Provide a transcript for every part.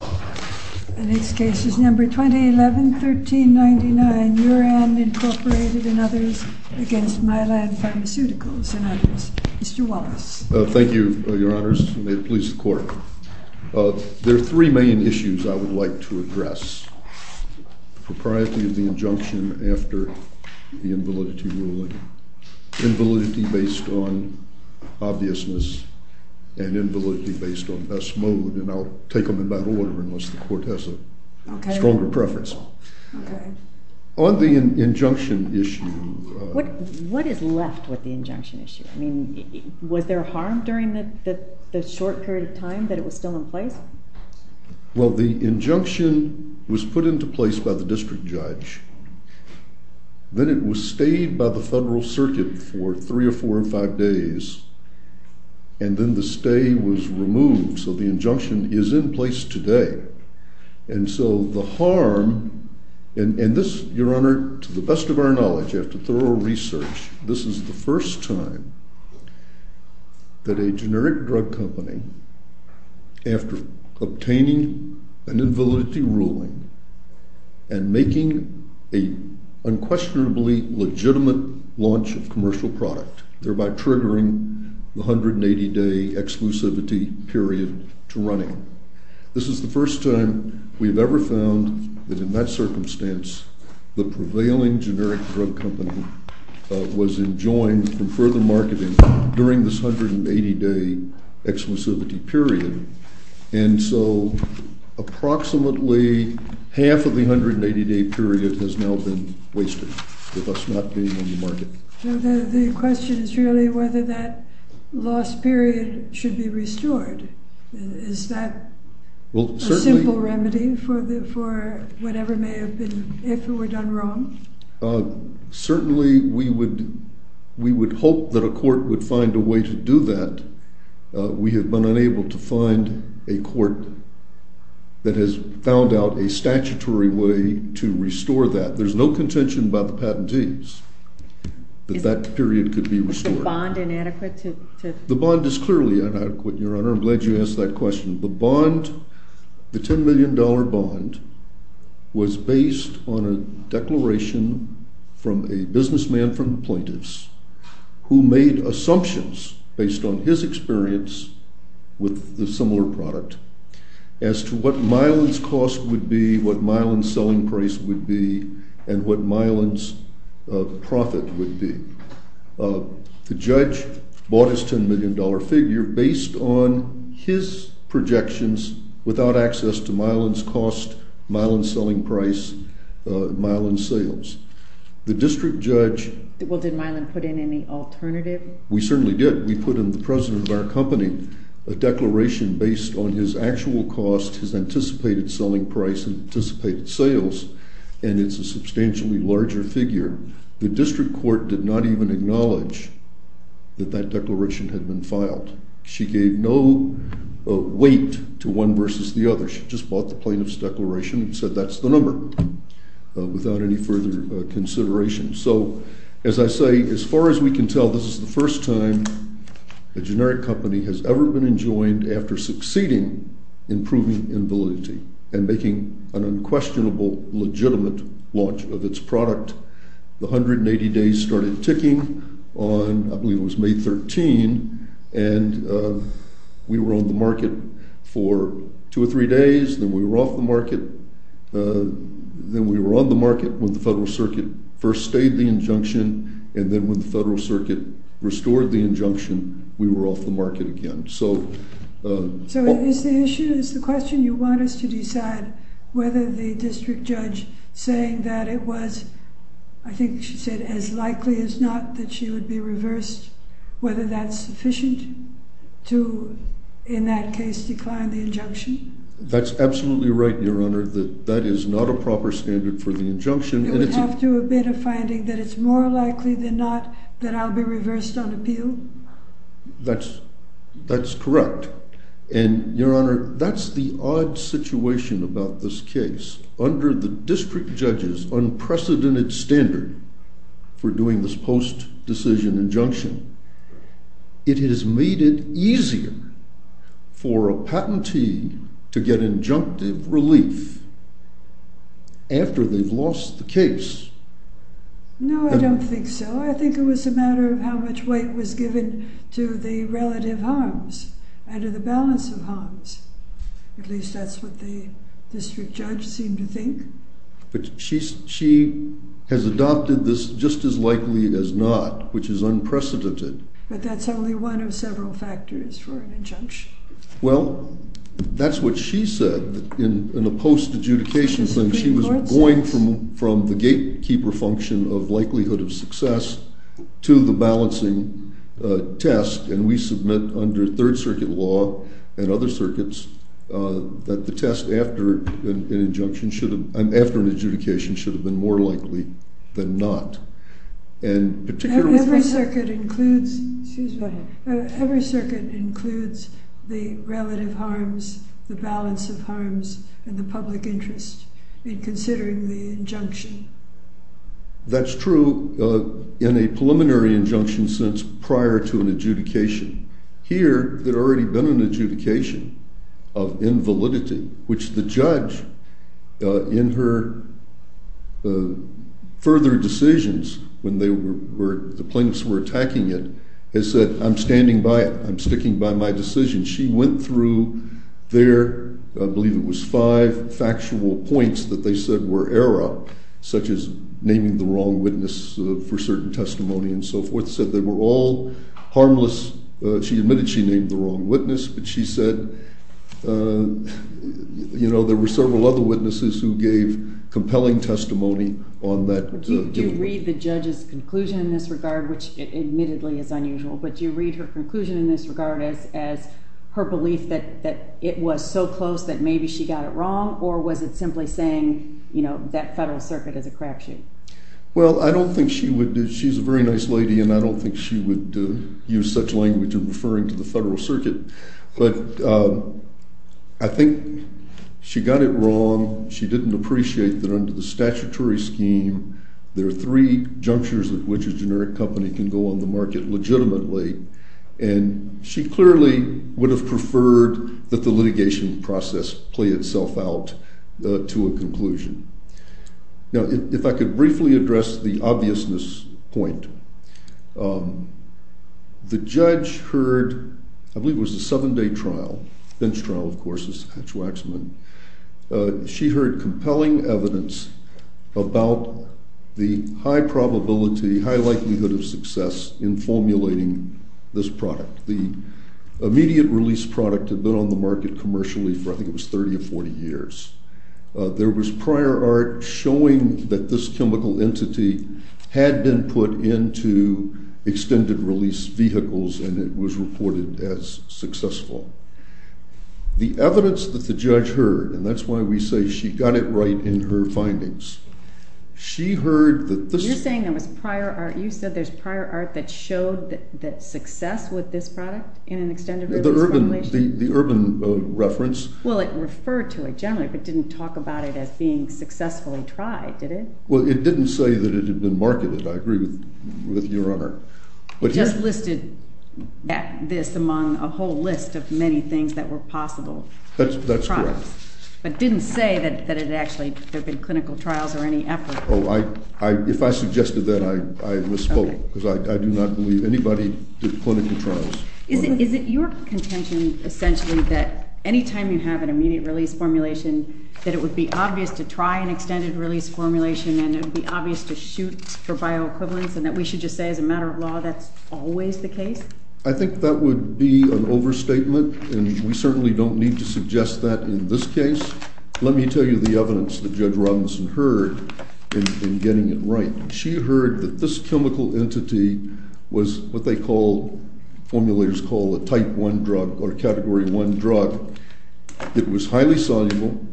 The next case is number 2011-1399, Muran Incorporated and others, against Mylan Pharmaceuticals and others. Mr. Wallace. Thank you, your honors. May it please the court. There are three main issues I would like to address, the propriety of the injunction after the invalidity ruling, invalidity based on obviousness, and invalidity based on best mode. And I'll take them in that order unless the court has a stronger preference. On the injunction issue. What is left with the injunction issue? I mean, was there harm during the short period of time that it was still in place? Well, the injunction was put into place by the district judge. Then it was stayed by the federal circuit for three or four or five days. And then the stay was removed. So the injunction is in place today. And so the harm, and this, your honor, to the best of our knowledge, after thorough research, this is the first time that a generic drug company, after obtaining an invalidity ruling, and making a unquestionably legitimate launch of commercial product, thereby triggering the 180 day exclusivity period to running. This is the first time we've ever found that in that circumstance, the prevailing generic drug company was enjoined from further marketing during this 180 day exclusivity period. And so approximately half of the 180 day period has now been wasted with us not being on the market. The question is really whether that lost period should be restored. Is that a simple remedy for whatever may have been, if it were done wrong? Certainly, we would hope that a court would find a way to do that. We have been unable to find a court that has found out a statutory way to restore that. There's no contention by the patentees that that period could be restored. Is the bond inadequate to? The bond is clearly inadequate, Your Honor. I'm glad you asked that question. The bond, the $10 million bond, was based on a declaration from a businessman from plaintiffs, who made assumptions based on his experience with the similar product, as to what Mylan's cost would be, what Mylan's selling price would be, and what Mylan's profit would be. The judge bought his $10 million figure based on his projections without access to Mylan's cost, Mylan's selling price, Mylan's sales. The district judge- Well, did Mylan put in any alternative? We certainly did. We put in the president of our company a declaration based on his actual cost, his anticipated selling price, and anticipated sales. And it's a substantially larger figure. The district court did not even acknowledge that that declaration had been filed. She gave no weight to one versus the other. She just bought the plaintiff's declaration and said, that's the number, without any further consideration. So, as I say, as far as we can tell, this is the first time a generic company has ever been enjoined after succeeding in proving invalidity and making an unquestionable, legitimate launch of its product. The 180 days started ticking on, I believe it was May 13, and we were on the market for two or three days. Then we were off the market. Then we were on the market when the federal circuit first stayed the injunction, and then when the federal circuit restored the injunction, we were off the market again. So- So, is the issue, is the question, you want us to decide whether the district judge saying that it was, I think she said, as likely as not that she would be reversed, whether that's sufficient to, in that case, decline the injunction? That's absolutely right, Your Honor. That is not a proper standard for the injunction. It would have to do a bit of finding that it's more likely than not that I'll be reversed on appeal? That's correct. And, Your Honor, that's the odd situation about this case. Under the district judge's unprecedented standard for doing this post-decision injunction, it has made it easier for a patentee to get injunctive relief after they've lost the case. No, I don't think so. I think it was a matter of how much weight was given to the relative harms. Under the balance of harms, at least that's what the district judge seemed to think. But she has adopted this just as likely as not, which is unprecedented. But that's only one of several factors for an injunction. Well, that's what she said in a post-adjudication thing. She was going from the gatekeeper function of likelihood of success to the balancing test, and we submit under Third Circuit law and other circuits that the test after an adjudication should have been more likely than not, and particularly for a second. Every circuit includes the relative harms, the balance of harms, and the public interest in considering the injunction. That's true in a preliminary injunction since prior to an adjudication. Here, there had already been an adjudication of invalidity, which the judge, in her further decisions when the plaintiffs were attacking it, has said, I'm standing by it. I'm sticking by my decision. She went through their, I believe it was five factual points that they said were error, such as naming the wrong witness for certain testimony and so forth, that said they were all harmless. She admitted she named the wrong witness, but she said there were several other witnesses who gave compelling testimony on that. Do you read the judge's conclusion in this regard, which admittedly is unusual, but do you read her conclusion in this regard as her belief that it was so close that maybe she got it wrong, or was it simply saying that Federal Circuit is a crapshoot? Well, I don't think she would. She's a very nice lady, and I don't think she would use such language in referring to the Federal Circuit. But I think she got it wrong. She didn't appreciate that under the statutory scheme, there are three junctures at which a generic company can go on the market legitimately. And she clearly would have preferred that the litigation process play itself out to a conclusion. Now, if I could briefly address the obviousness point, the judge heard, I believe it was a seven-day trial, bench trial, of course, as Hatch-Waxman. She heard compelling evidence about the high probability, high likelihood of success in formulating this product. The immediate release product had been on the market commercially for I think it was 30 or 40 years. There was prior art showing that this chemical entity had been put into extended release vehicles, and it was reported as successful. The evidence that the judge heard, and that's why we say she got it right in her findings, she heard that this is- You're saying there was prior art. You said there's prior art that showed that success with this product in an extended release formulation? The urban reference. Well, it referred to it generally, but didn't talk about it as being successfully tried, did it? Well, it didn't say that it had been marketed. I agree with your honor. It just listed this among a whole list of many things that were possible. That's correct. But didn't say that there had been clinical trials or any effort. If I suggested that, I misspoke, because I do not believe anybody did clinical trials. Is it your contention, essentially, that any time you have an immediate release formulation, that it would be obvious to try an extended release formulation and it would be obvious to shoot for bioequivalence, and that we should just say as a matter of law, that's always the case? I think that would be an overstatement, and we certainly don't need to suggest that in this case. Let me tell you the evidence that Judge Robinson heard in getting it right. She heard that this chemical entity was what they call, formulators call, a type 1 drug or a category 1 drug. It was highly soluble.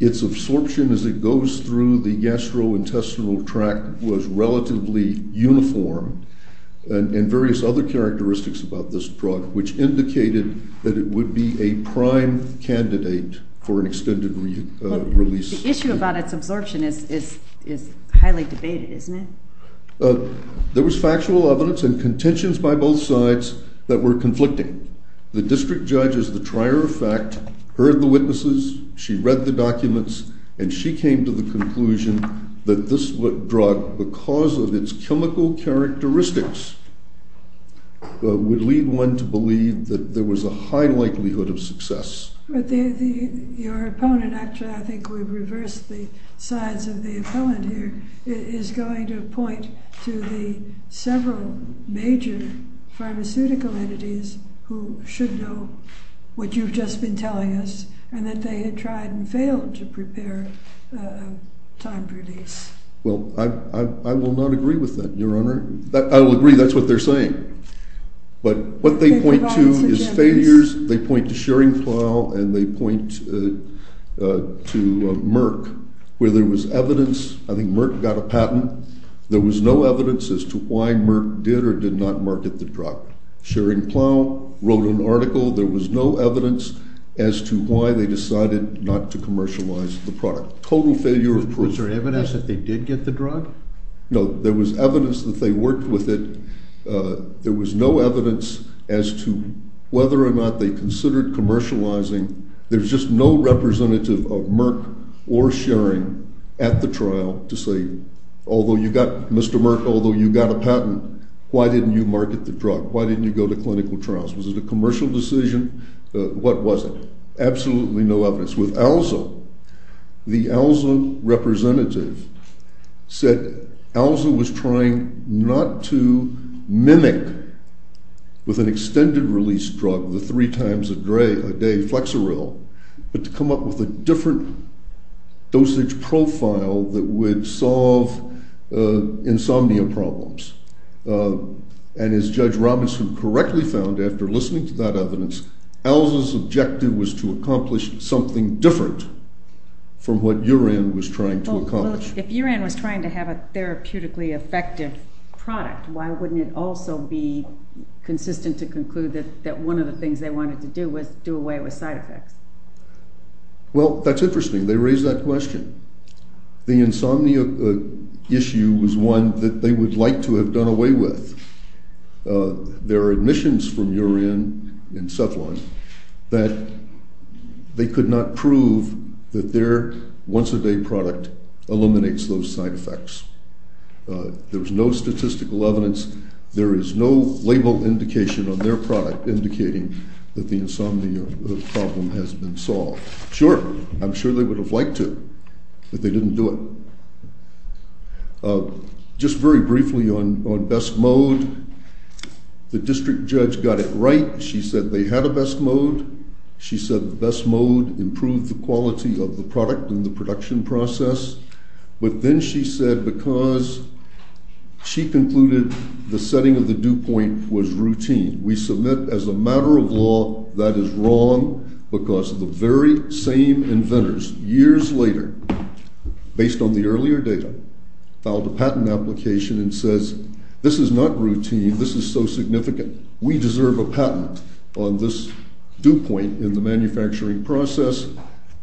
Its absorption as it goes through the gastrointestinal tract was relatively uniform, and various other characteristics about this drug, which indicated that it would be a prime candidate for an extended release. The issue about its absorption is highly debated, isn't it? There was factual evidence and contentions by both sides that were conflicting. The district judge is the trier of fact, heard the witnesses, she read the documents, and she came to the conclusion that this drug, because of its chemical characteristics, would lead one to believe that there was a high likelihood of success. Your opponent, actually, I think we've reversed the sides of the opponent here, is going to point to the several major pharmaceutical entities who should know what you've just been telling us, and that they had tried and failed to prepare a time release. Well, I will not agree with that, Your Honor. I will agree that's what they're saying. But what they point to is failures. They point to shering plow, and they point to Merck, where there was evidence. I think Merck got a patent. There was no evidence as to why Merck did or did not market the drug. Shering plow wrote an article. There was no evidence as to why they decided not to commercialize the product. Total failure of proof. Was there evidence that they did get the drug? No, there was evidence that they worked with it. There was no evidence as to whether or not they considered commercializing. There's just no representative of Merck or Shering at the trial to say, although you got Mr. Merck, although you got a patent, why didn't you market the drug? Why didn't you go to clinical trials? Was it a commercial decision? What was it? Absolutely no evidence. With Alza, the Alza representative said Alza was trying not to mimic with an extended release drug, the three times a day Flexeril, but to come up with a different dosage profile that would solve insomnia problems. And as Judge Robinson correctly found after listening to that evidence, Alza's objective was to accomplish something different from what Uran was trying to accomplish. If Uran was trying to have a therapeutically effective product, why wouldn't it also be consistent to conclude that one of the things they wanted to do was do away with side effects? Well, that's interesting. They raised that question. The insomnia issue was one that they would like to have done away with. There are admissions from Uran and Cephalon that they could not prove that their once-a-day product eliminates those side effects. There was no statistical evidence. There is no label indication on their product indicating that the insomnia problem has been solved. Sure. I'm sure they would have liked to, but they didn't do it. Just very briefly on best mode, the district judge got it right. She said they had a best mode. She said the best mode improved the quality of the product and the production process. But then she said because she concluded the setting of the dew point was routine. We submit as a matter of law that is wrong because the very same inventors years later, based on the earlier data, filed a patent application and says, this is not routine. This is so significant. We deserve a patent on this dew point in the manufacturing process.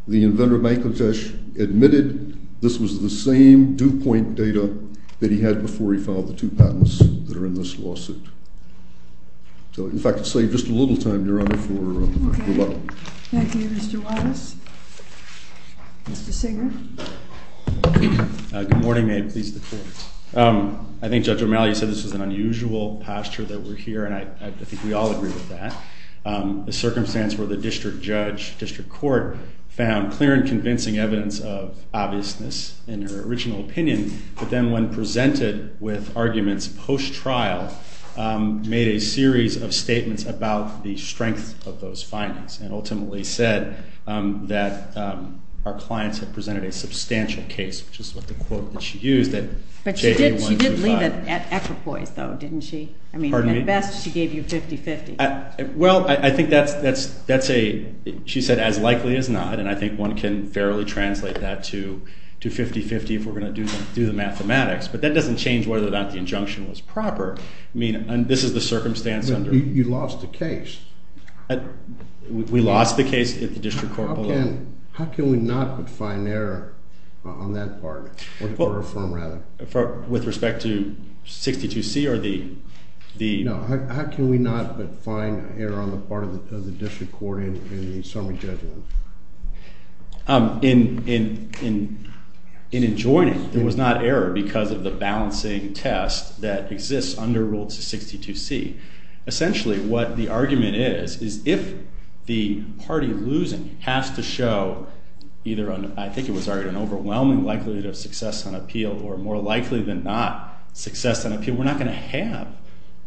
The inventor, Bangladesh, admitted this was the same dew point data that he had before he filed the two patents that were in fact, to save just a little time, Your Honor, for rebuttal. Thank you, Mr. Wattis. Mr. Singer. Good morning. May it please the court. I think Judge O'Malley said this was an unusual pasture that were here, and I think we all agree with that. The circumstance where the district judge, district court, found clear and convincing evidence of obviousness in her original opinion, but then when presented with arguments post-trial, made a series of statements about the strength of those findings, and ultimately said that our clients had presented a substantial case, which is what the quote that she used at JAB 125. But she did leave it at equipoise, though, didn't she? I mean, at best, she gave you 50-50. Well, I think that's a, she said, as likely as not, and I think one can fairly translate that to 50-50 if we're going to do the mathematics. But that doesn't change whether or not the injunction was proper. I mean, this is the circumstance under. You lost the case. We lost the case if the district court pulled it. How can we not but find error on that part, or affirm, rather? With respect to 62C or the? No, how can we not but find error on the part of the district court in the summary judgment? In adjoining, there was not error because of the balancing test that exists under Rule 62C. Essentially, what the argument is is if the party losing has to show either an, I think it was already an overwhelming likelihood of success on appeal, or more likely than not success on appeal, we're not going to have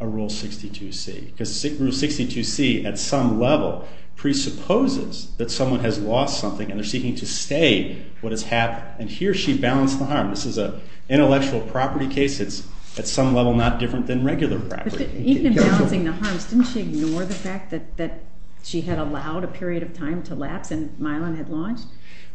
a Rule 62C. Because Rule 62C, at some level, presupposes that someone has lost something, and they're seeking to say what has happened. And here, she balanced the harm. This is an intellectual property case. It's, at some level, not different than regular property. Even in balancing the harms, didn't she ignore the fact that she had allowed a period of time to lapse and Mylon had launched?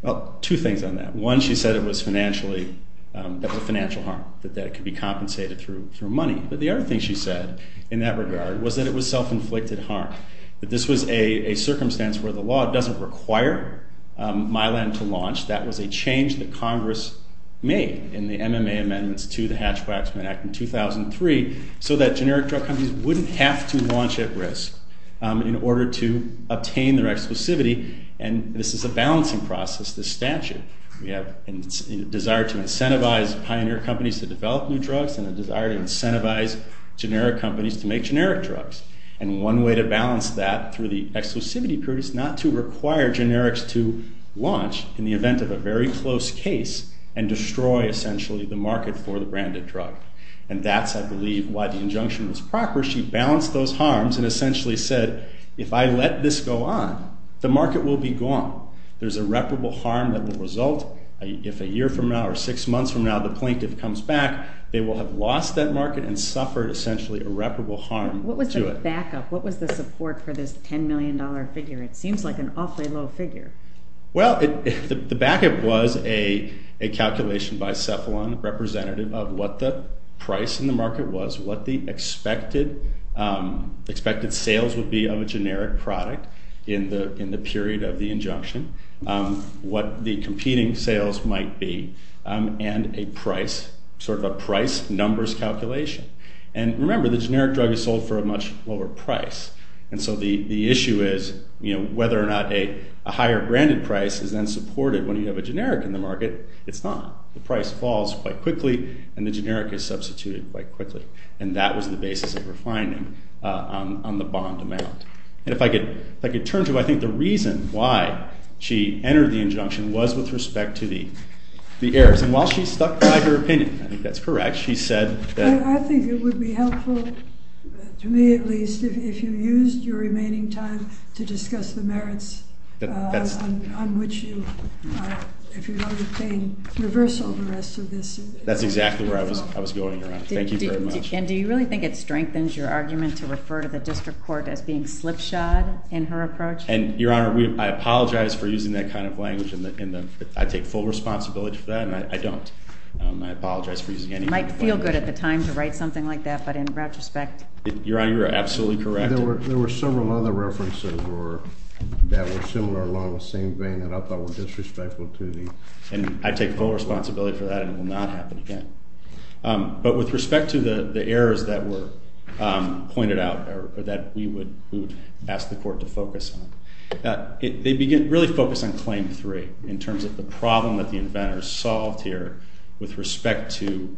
Well, two things on that. One, she said it was financially, that was a financial harm, that that could be compensated through money. But the other thing she said in that regard was that it was self-inflicted harm, that this was a circumstance where the law doesn't require Mylon to launch. That was a change that Congress made in the MMA Amendments to the Hatch-Waxman Act in 2003, so that generic drug companies wouldn't have to launch at risk in order to obtain their exclusivity. And this is a balancing process, this statute. We have a desire to incentivize pioneer companies to develop new drugs, and a desire to incentivize generic companies to make generic drugs. And one way to balance that through the exclusivity period is not to require generics to launch in the event of a very close case and destroy, essentially, the market for the branded drug. And that's, I believe, why the injunction was proper. She balanced those harms and essentially said, if I let this go on, the market will be gone. There's irreparable harm that will result. If a year from now or six months from now the plaintiff comes back, they will have lost that market and suffered, essentially, irreparable harm What was the backup? What was the support for this $10 million figure? It seems like an awfully low figure. Well, the backup was a calculation by Cephalon representative of what the price in the market was, what the expected sales would be of a generic product in the period of the injunction, what the competing sales might be, and a price, sort of a price numbers calculation. And remember, the generic drug is sold for a much lower price. And so the issue is whether or not a higher branded price is then supported when you have a generic in the market. It's not. The price falls quite quickly, and the generic is substituted quite quickly. And that was the basis of refining on the bond amount. And if I could turn to, I think, the reason why she entered the injunction was with respect to the errors. And while she's stuck by her opinion, I think that's correct, she said that. I think it would be helpful, to me at least, if you used your remaining time to discuss the merits on which you, if you don't obtain reversal of the rest of this. That's exactly where I was going, Your Honor. Thank you very much. And do you really think it strengthens your argument to refer to the district court as being slipshod in her approach? And, Your Honor, I apologize for using that kind of language. I take full responsibility for that, and I don't. I apologize for using any language. It might feel good at the time to write something like that, but in retrospect. Your Honor, you're absolutely correct. There were several other references that were similar along the same vein, and I thought were disrespectful to the district. And I take full responsibility for that, and it will not happen again. But with respect to the errors that were pointed out, that we would ask the court to focus on, they really focus on claim three, in terms of the problem that the inventors solved here with respect to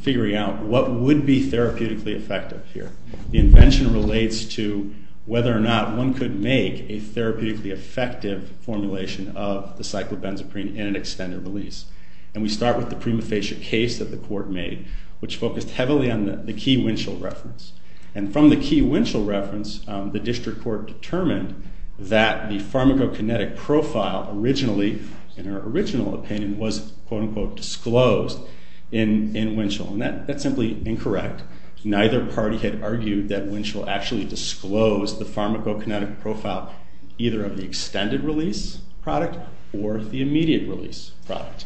figuring out what would be therapeutically effective here. The invention relates to whether or not one could make a therapeutically effective formulation of the cyclobenzaprine in an extended release. And we start with the prima facie case that the court made, which focused heavily on the key Winchell reference. And from the key Winchell reference, the district court determined that the pharmacokinetic profile originally, in her original opinion, was, quote unquote, disclosed in Winchell. And that's simply incorrect. Neither party had argued that Winchell actually disclosed the pharmacokinetic profile, either of the extended release product or the immediate release product.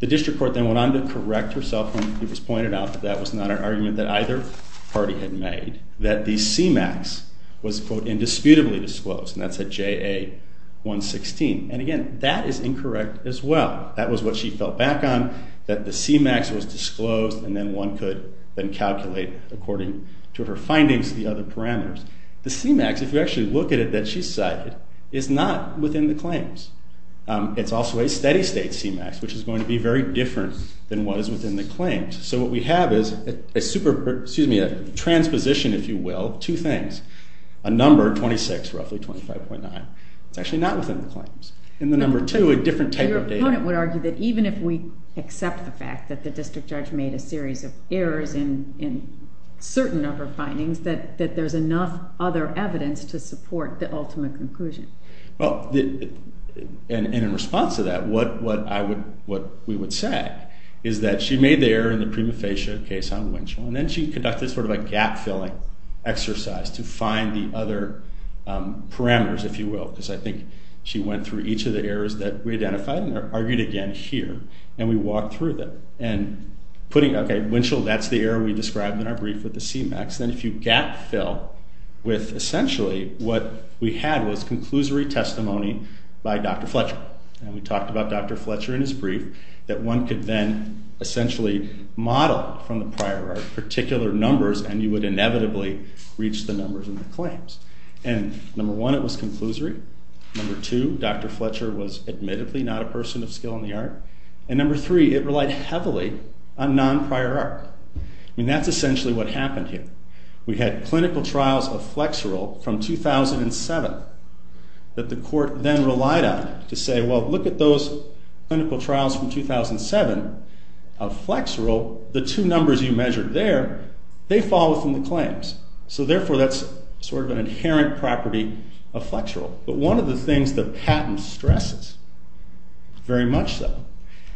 The district court then went on to correct herself when it was pointed out that that was not an argument that either party had made, that the CMAX was, quote, indisputably disclosed. And that's at JA 116. And again, that is incorrect as well. That was what she felt back on, that the CMAX was disclosed. And then one could then calculate according to her findings the other parameters. The CMAX, if you actually look at it, that she cited, is not within the claims. It's also a steady state CMAX, which is going to be very different than what is within the claims. So what we have is a super, excuse me, a transposition, if you will, two things. A number, 26, roughly 25.9. It's actually not within the claims. And the number two, a different type of data. Your opponent would argue that even if we accept the fact that the district judge made a series of errors in certain of her findings, that there's enough other evidence to support the ultimate conclusion. Well, and in response to that, what we would say is that she made the error in the prima facie case on Winchell. And then she conducted sort of a gap-filling exercise to find the other parameters, if you will. Because I think she went through each of the errors that we identified and argued again here. And we walked through them. And putting, OK, Winchell, that's the error we described in our brief with the CMAX. Then if you gap-fill with, essentially, what we had was conclusory testimony by Dr. Fletcher. And we talked about Dr. Fletcher in his brief, that one could then essentially model from the prior art particular numbers, and you would inevitably reach the numbers in the claims. And number one, it was conclusory. Number two, Dr. Fletcher was admittedly not a person of skill in the art. And number three, it relied heavily on non-prior art. I mean, that's essentially what happened here. We had clinical trials of Flexeril from 2007 that the court then relied on to say, well, look at those clinical trials from 2007 of Flexeril. The two numbers you measured there, they fall within the claims. So therefore, that's sort of an inherent property of Flexeril. But one of the things that Patton stresses, very much so,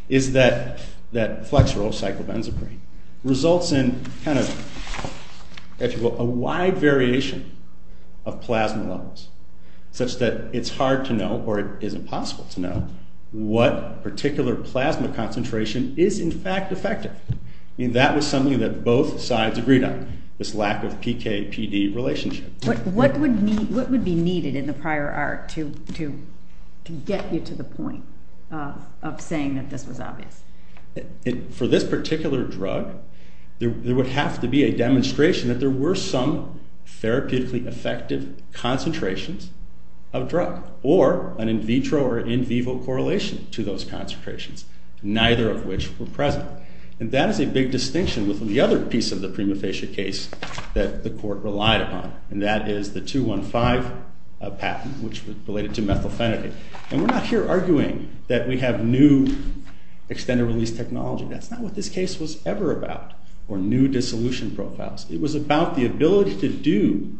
is that Flexeril, cyclobenzaprine, results in a wide variation of plasma levels, such that it's hard to know, or it is impossible to know, what particular plasma concentration is, in fact, effective. That was something that both sides agreed on, this lack of PK-PD relationship. What would be needed in the prior art to get you to the point of saying that this was obvious? For this particular drug, there would have to be a demonstration that there were some therapeutically effective concentrations of drug, or an in vitro or in vivo correlation to those concentrations, neither of which were present. And that is a big distinction with the other piece of the prima facie case that the court relied upon. And that is the 215 patent, which was related to methylphenidate. And we're not here arguing that we have new extended release technology. That's not what this case was ever about, or new dissolution profiles. It was about the ability to do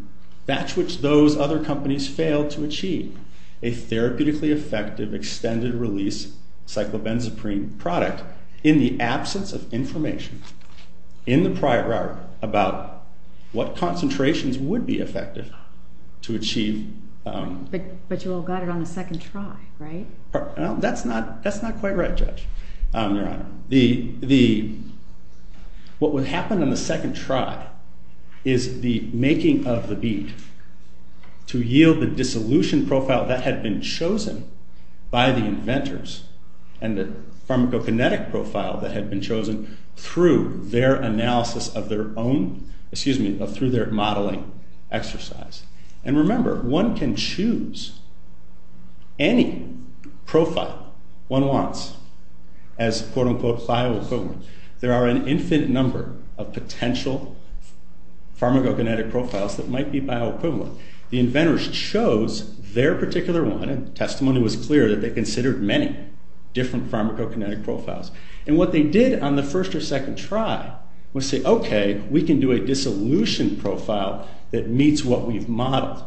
that which those other companies failed to achieve, a therapeutically effective extended release cyclobenzaprine product, in the absence of information, in the prior art, about what concentrations would be effective to achieve. But you all got it on the second try, right? That's not quite right, Judge, Your Honor. What would happen on the second try is the making of the bead to yield the dissolution profile that had been chosen by the inventors, and the pharmacokinetic profile that their analysis of their own, excuse me, through their modeling exercise. And remember, one can choose any profile one wants as, quote unquote, bioequivalent. There are an infinite number of potential pharmacokinetic profiles that might be bioequivalent. The inventors chose their particular one. And testimony was clear that they considered many different pharmacokinetic profiles. And what they did on the first or second try was say, OK, we can do a dissolution profile that meets what we've modeled.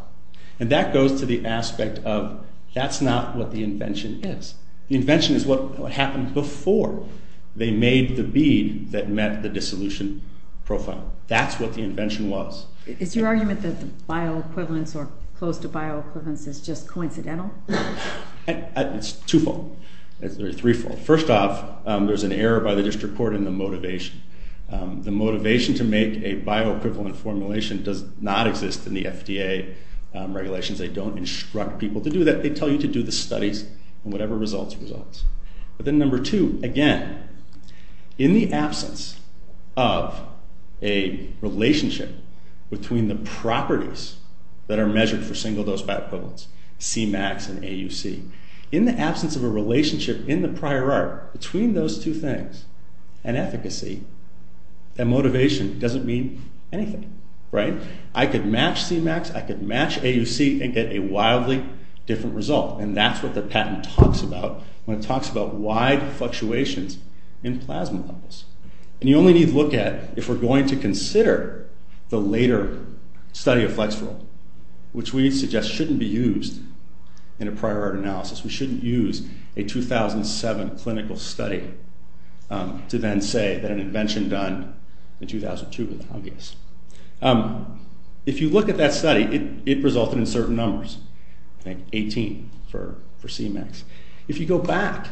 And that goes to the aspect of that's not what the invention is. The invention is what happened before they made the bead that met the dissolution profile. That's what the invention was. Is your argument that the bioequivalence or close to bioequivalence is just coincidental? It's twofold, or threefold. First off, there's an error by the district court in the motivation. The motivation to make a bioequivalent formulation does not exist in the FDA regulations. They don't instruct people to do that. They tell you to do the studies and whatever results results. But then number two, again, in the absence of a relationship between the properties that are measured for single dose bioequivalence, C-max and AUC, in the absence of a relationship in the prior art between those two things and efficacy, that motivation doesn't mean anything, right? I could match C-max. I could match AUC and get a wildly different result. And that's what the patent talks about when it talks about wide fluctuations in plasma levels. And you only need to look at if we're going to consider the later study of flexerol, which we suggest shouldn't be used in a prior art analysis. We shouldn't use a 2007 clinical study to then say that an invention done in 2002 was obvious. If you look at that study, it resulted in certain numbers, 18 for C-max. If you go back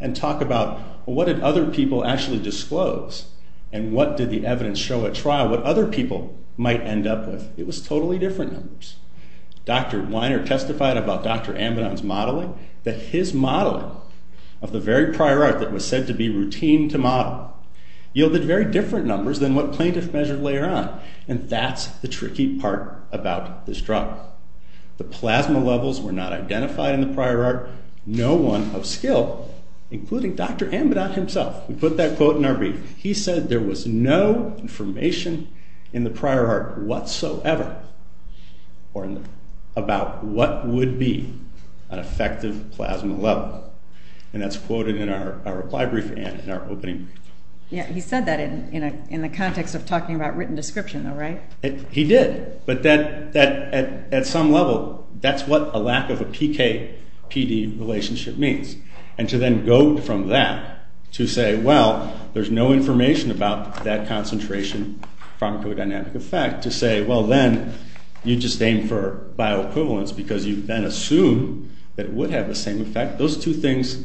and talk about what did other people actually disclose and what did the evidence show at trial, what other people might end up with, it was totally different numbers. Dr. Weiner testified about Dr. Amidon's modeling, that his modeling of the very prior art that was said to be routine to model yielded very different numbers than what plaintiffs measured later on. And that's the tricky part about this drug. The plasma levels were not identified in the prior art, no one of skill, including Dr. Amidon himself. We put that quote in our brief. He said there was no information in the prior art whatsoever. About what would be an effective plasma level. And that's quoted in our reply brief and in our opening brief. Yeah, he said that in the context of talking about written description, though, right? He did. But at some level, that's what a lack of a PK-PD relationship means. And to then go from that to say, well, there's no information about that concentration pharmacodynamic effect, to say, well then, you just aim for bioequivalence, because you then assume that it would have the same effect. Those two things,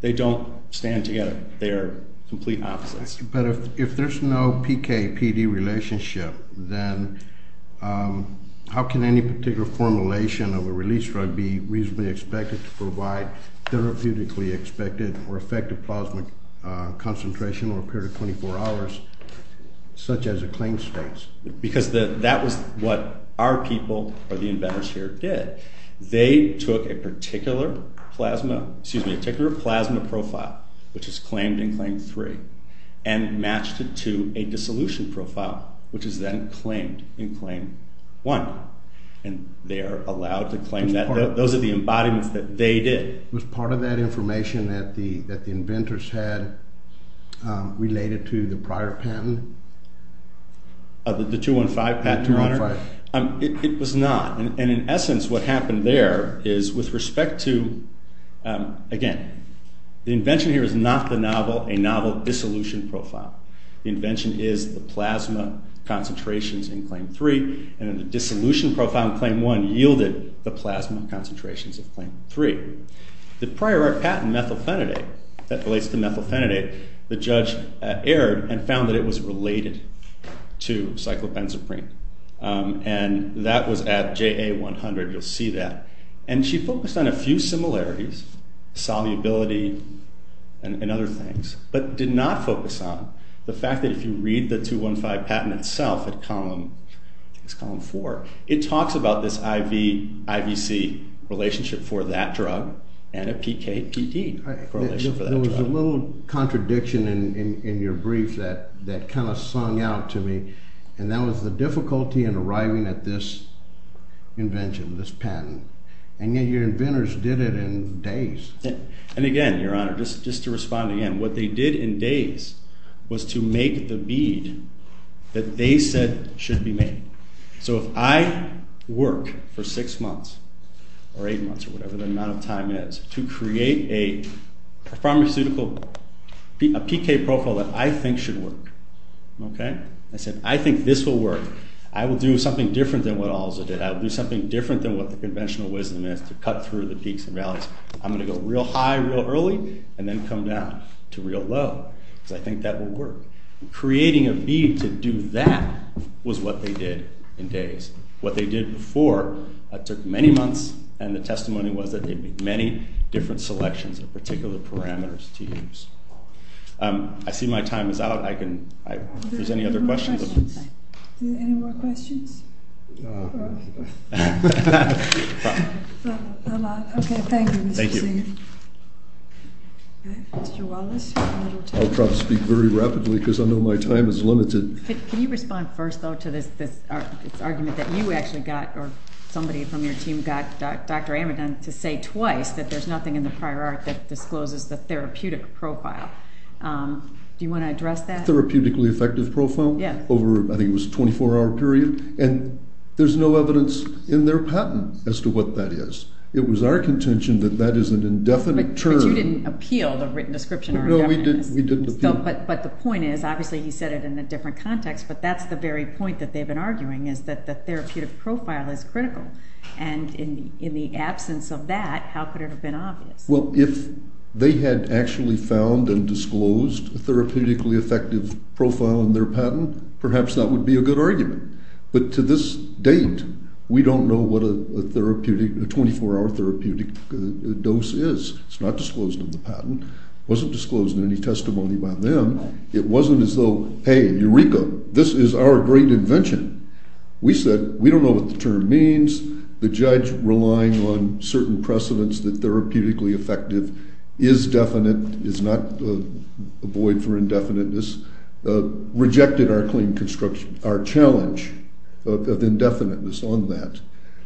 they don't stand together. They are complete opposites. But if there's no PK-PD relationship, then how can any particular formulation of a release drug be reasonably expected to provide therapeutically expected or effective plasma concentration over a period of 24 hours, such as a claim states? Because that was what our people or the inventors here did. They took a particular plasma profile, which is claimed in claim three, and matched it to a dissolution profile, which is then claimed in claim one. And they are allowed to claim that. Those are the embodiments that they did. Was part of that information that the inventors had related to the prior patent? The 215 patent, Your Honor? The 215. It was not. And in essence, what happened there is, with respect to, again, the invention here is not a novel dissolution profile. The invention is the plasma concentrations in claim three. And in the dissolution profile in claim one yielded the plasma concentrations of claim three. The prior patent, methylphenidate, that relates to methylphenidate, the judge erred and found that it was related to cyclopenzaprine. And that was at JA 100. You'll see that. And she focused on a few similarities, solubility and other things, but did not focus on the fact that if you read the 215 patent itself at column four, it talks about this IV-C relationship for that drug and a PK-PD correlation for that drug. There was a little contradiction in your brief that kind of sung out to me. And that was the difficulty in arriving at this invention, this patent. And yet your inventors did it in days. And again, Your Honor, just to respond again, what they did in days was to make the bead that they said should be made. So if I work for six months or eight months or whatever the amount of time is to create a pharmaceutical PK profile that I think should work, I said, I think this will work. I will do something different than what Alza did. I will do something different than what the conventional wisdom is to cut through the peaks and valleys. I'm going to go real high real early and then come down to real low because I think that will work. Creating a bead to do that was what they did in days. What they did before took many months. And the testimony was that they made many different selections of particular parameters to use. I see my time is out. If there's any other questions. Are there any more questions? No. All right. Not a lot. OK, thank you, Mr. Sagan. Thank you. All right, Mr. Wallace. I'll try to speak very rapidly because I know my time is limited. Can you respond first, though, to this argument that you actually got or somebody from your team got Dr. Amidon to say twice that there's nothing in the prior art that discloses the therapeutic profile? Do you want to address that? Therapeutically effective profile? Yeah. Over, I think, it was a 24-hour period. And there's no evidence in their patent as to what that is. It was our contention that that is an indefinite term. But you didn't appeal the written description of indefiniteness. No, we didn't appeal it. But the point is, obviously, he said it in a different context, but that's the very point that they've been arguing is that the therapeutic profile is in the absence of that. How could it have been obvious? Well, if they had actually found and disclosed a therapeutically effective profile in their patent, perhaps that would be a good argument. But to this date, we don't know what a 24-hour therapeutic dose is. It's not disclosed in the patent. It wasn't disclosed in any testimony by them. It wasn't as though, hey, Eureka, this is our great invention. We said, we don't know what the term means. The judge, relying on certain precedents that therapeutically effective is definite, is not a void for indefiniteness, rejected our claim construction, our challenge of indefiniteness on that.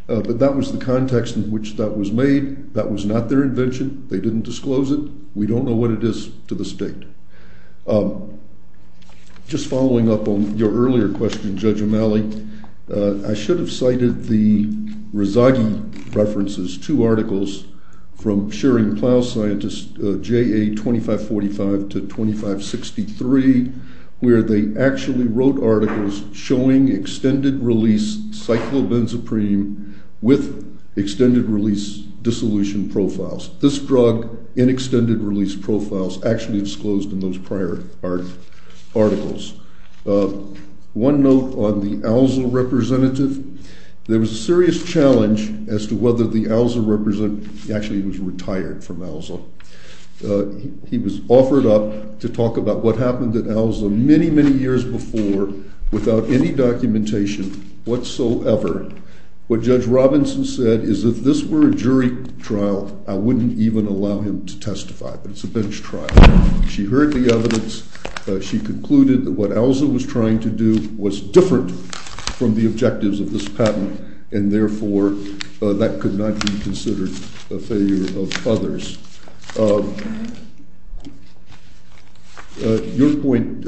But that was the context in which that was made. That was not their invention. They didn't disclose it. We don't know what it is to the state. Just following up on your earlier question, Judge O'Malley, I should have cited the Rezaghi references, two articles from sharing plow scientist J.A. 2545 to 2563, where they actually wrote articles showing extended-release cyclobenzaprine with extended-release dissolution profiles. This drug in extended-release profiles actually disclosed in those prior articles. One note on the ALZA representative. There was a serious challenge as to whether the ALZA representative actually was retired from ALZA. He was offered up to talk about what happened at ALZA many, many years before without any documentation whatsoever. What Judge Robinson said is, if this were a jury trial, I wouldn't even allow him to testify. But it's a bench trial. She heard the evidence. She concluded that what ALZA was trying to do was different from the objectives of this patent, and therefore that could not be considered a failure of others. Your point,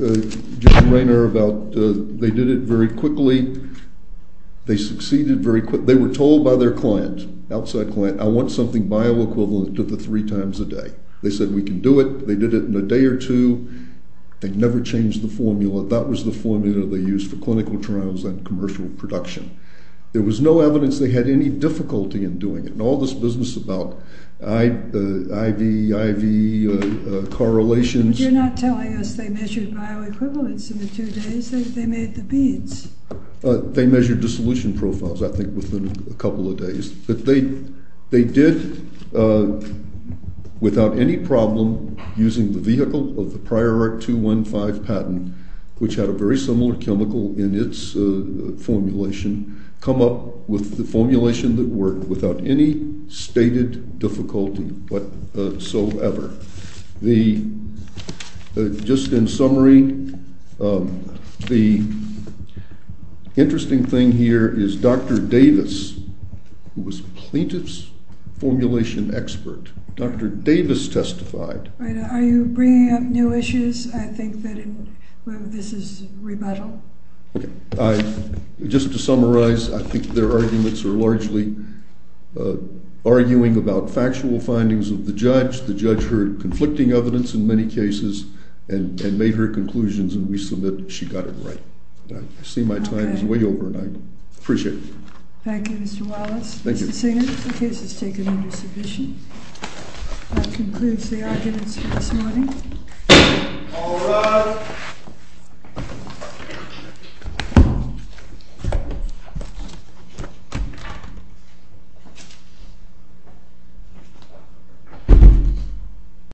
Judge Rainer, about they did it very quickly. They succeeded very quickly. They were told by their client, outside client, I want something bioequivalent to the three times a day. They said, we can do it. They did it in a day or two. They never changed the formula. That was the formula they used for clinical trials and commercial production. There was no evidence they had any difficulty in doing it. And all this business about IV, IV correlations. But you're not telling us they measured bioequivalence in the two days. They made the beads. They measured dissolution profiles, I think, within a couple of days. But they did, without any problem, using the vehicle of the prior Act 215 patent, which had a very similar chemical in its formulation, come up with the formulation that worked without any stated difficulty whatsoever. Just in summary, the interesting thing here is Dr. Davis, who was plaintiff's formulation expert. Dr. Davis testified. Are you bringing up new issues? I think that this is rebuttal. Just to summarize, I think their arguments are largely arguing about factual findings of the judge. The judge heard conflicting evidence in many cases and made her conclusions. And we submit she got it right. I see my time is way over, and I appreciate it. Thank you, Mr. Wallace. Thank you. Mr. Singer, the case is taken under submission. That concludes the arguments for this morning. All rise.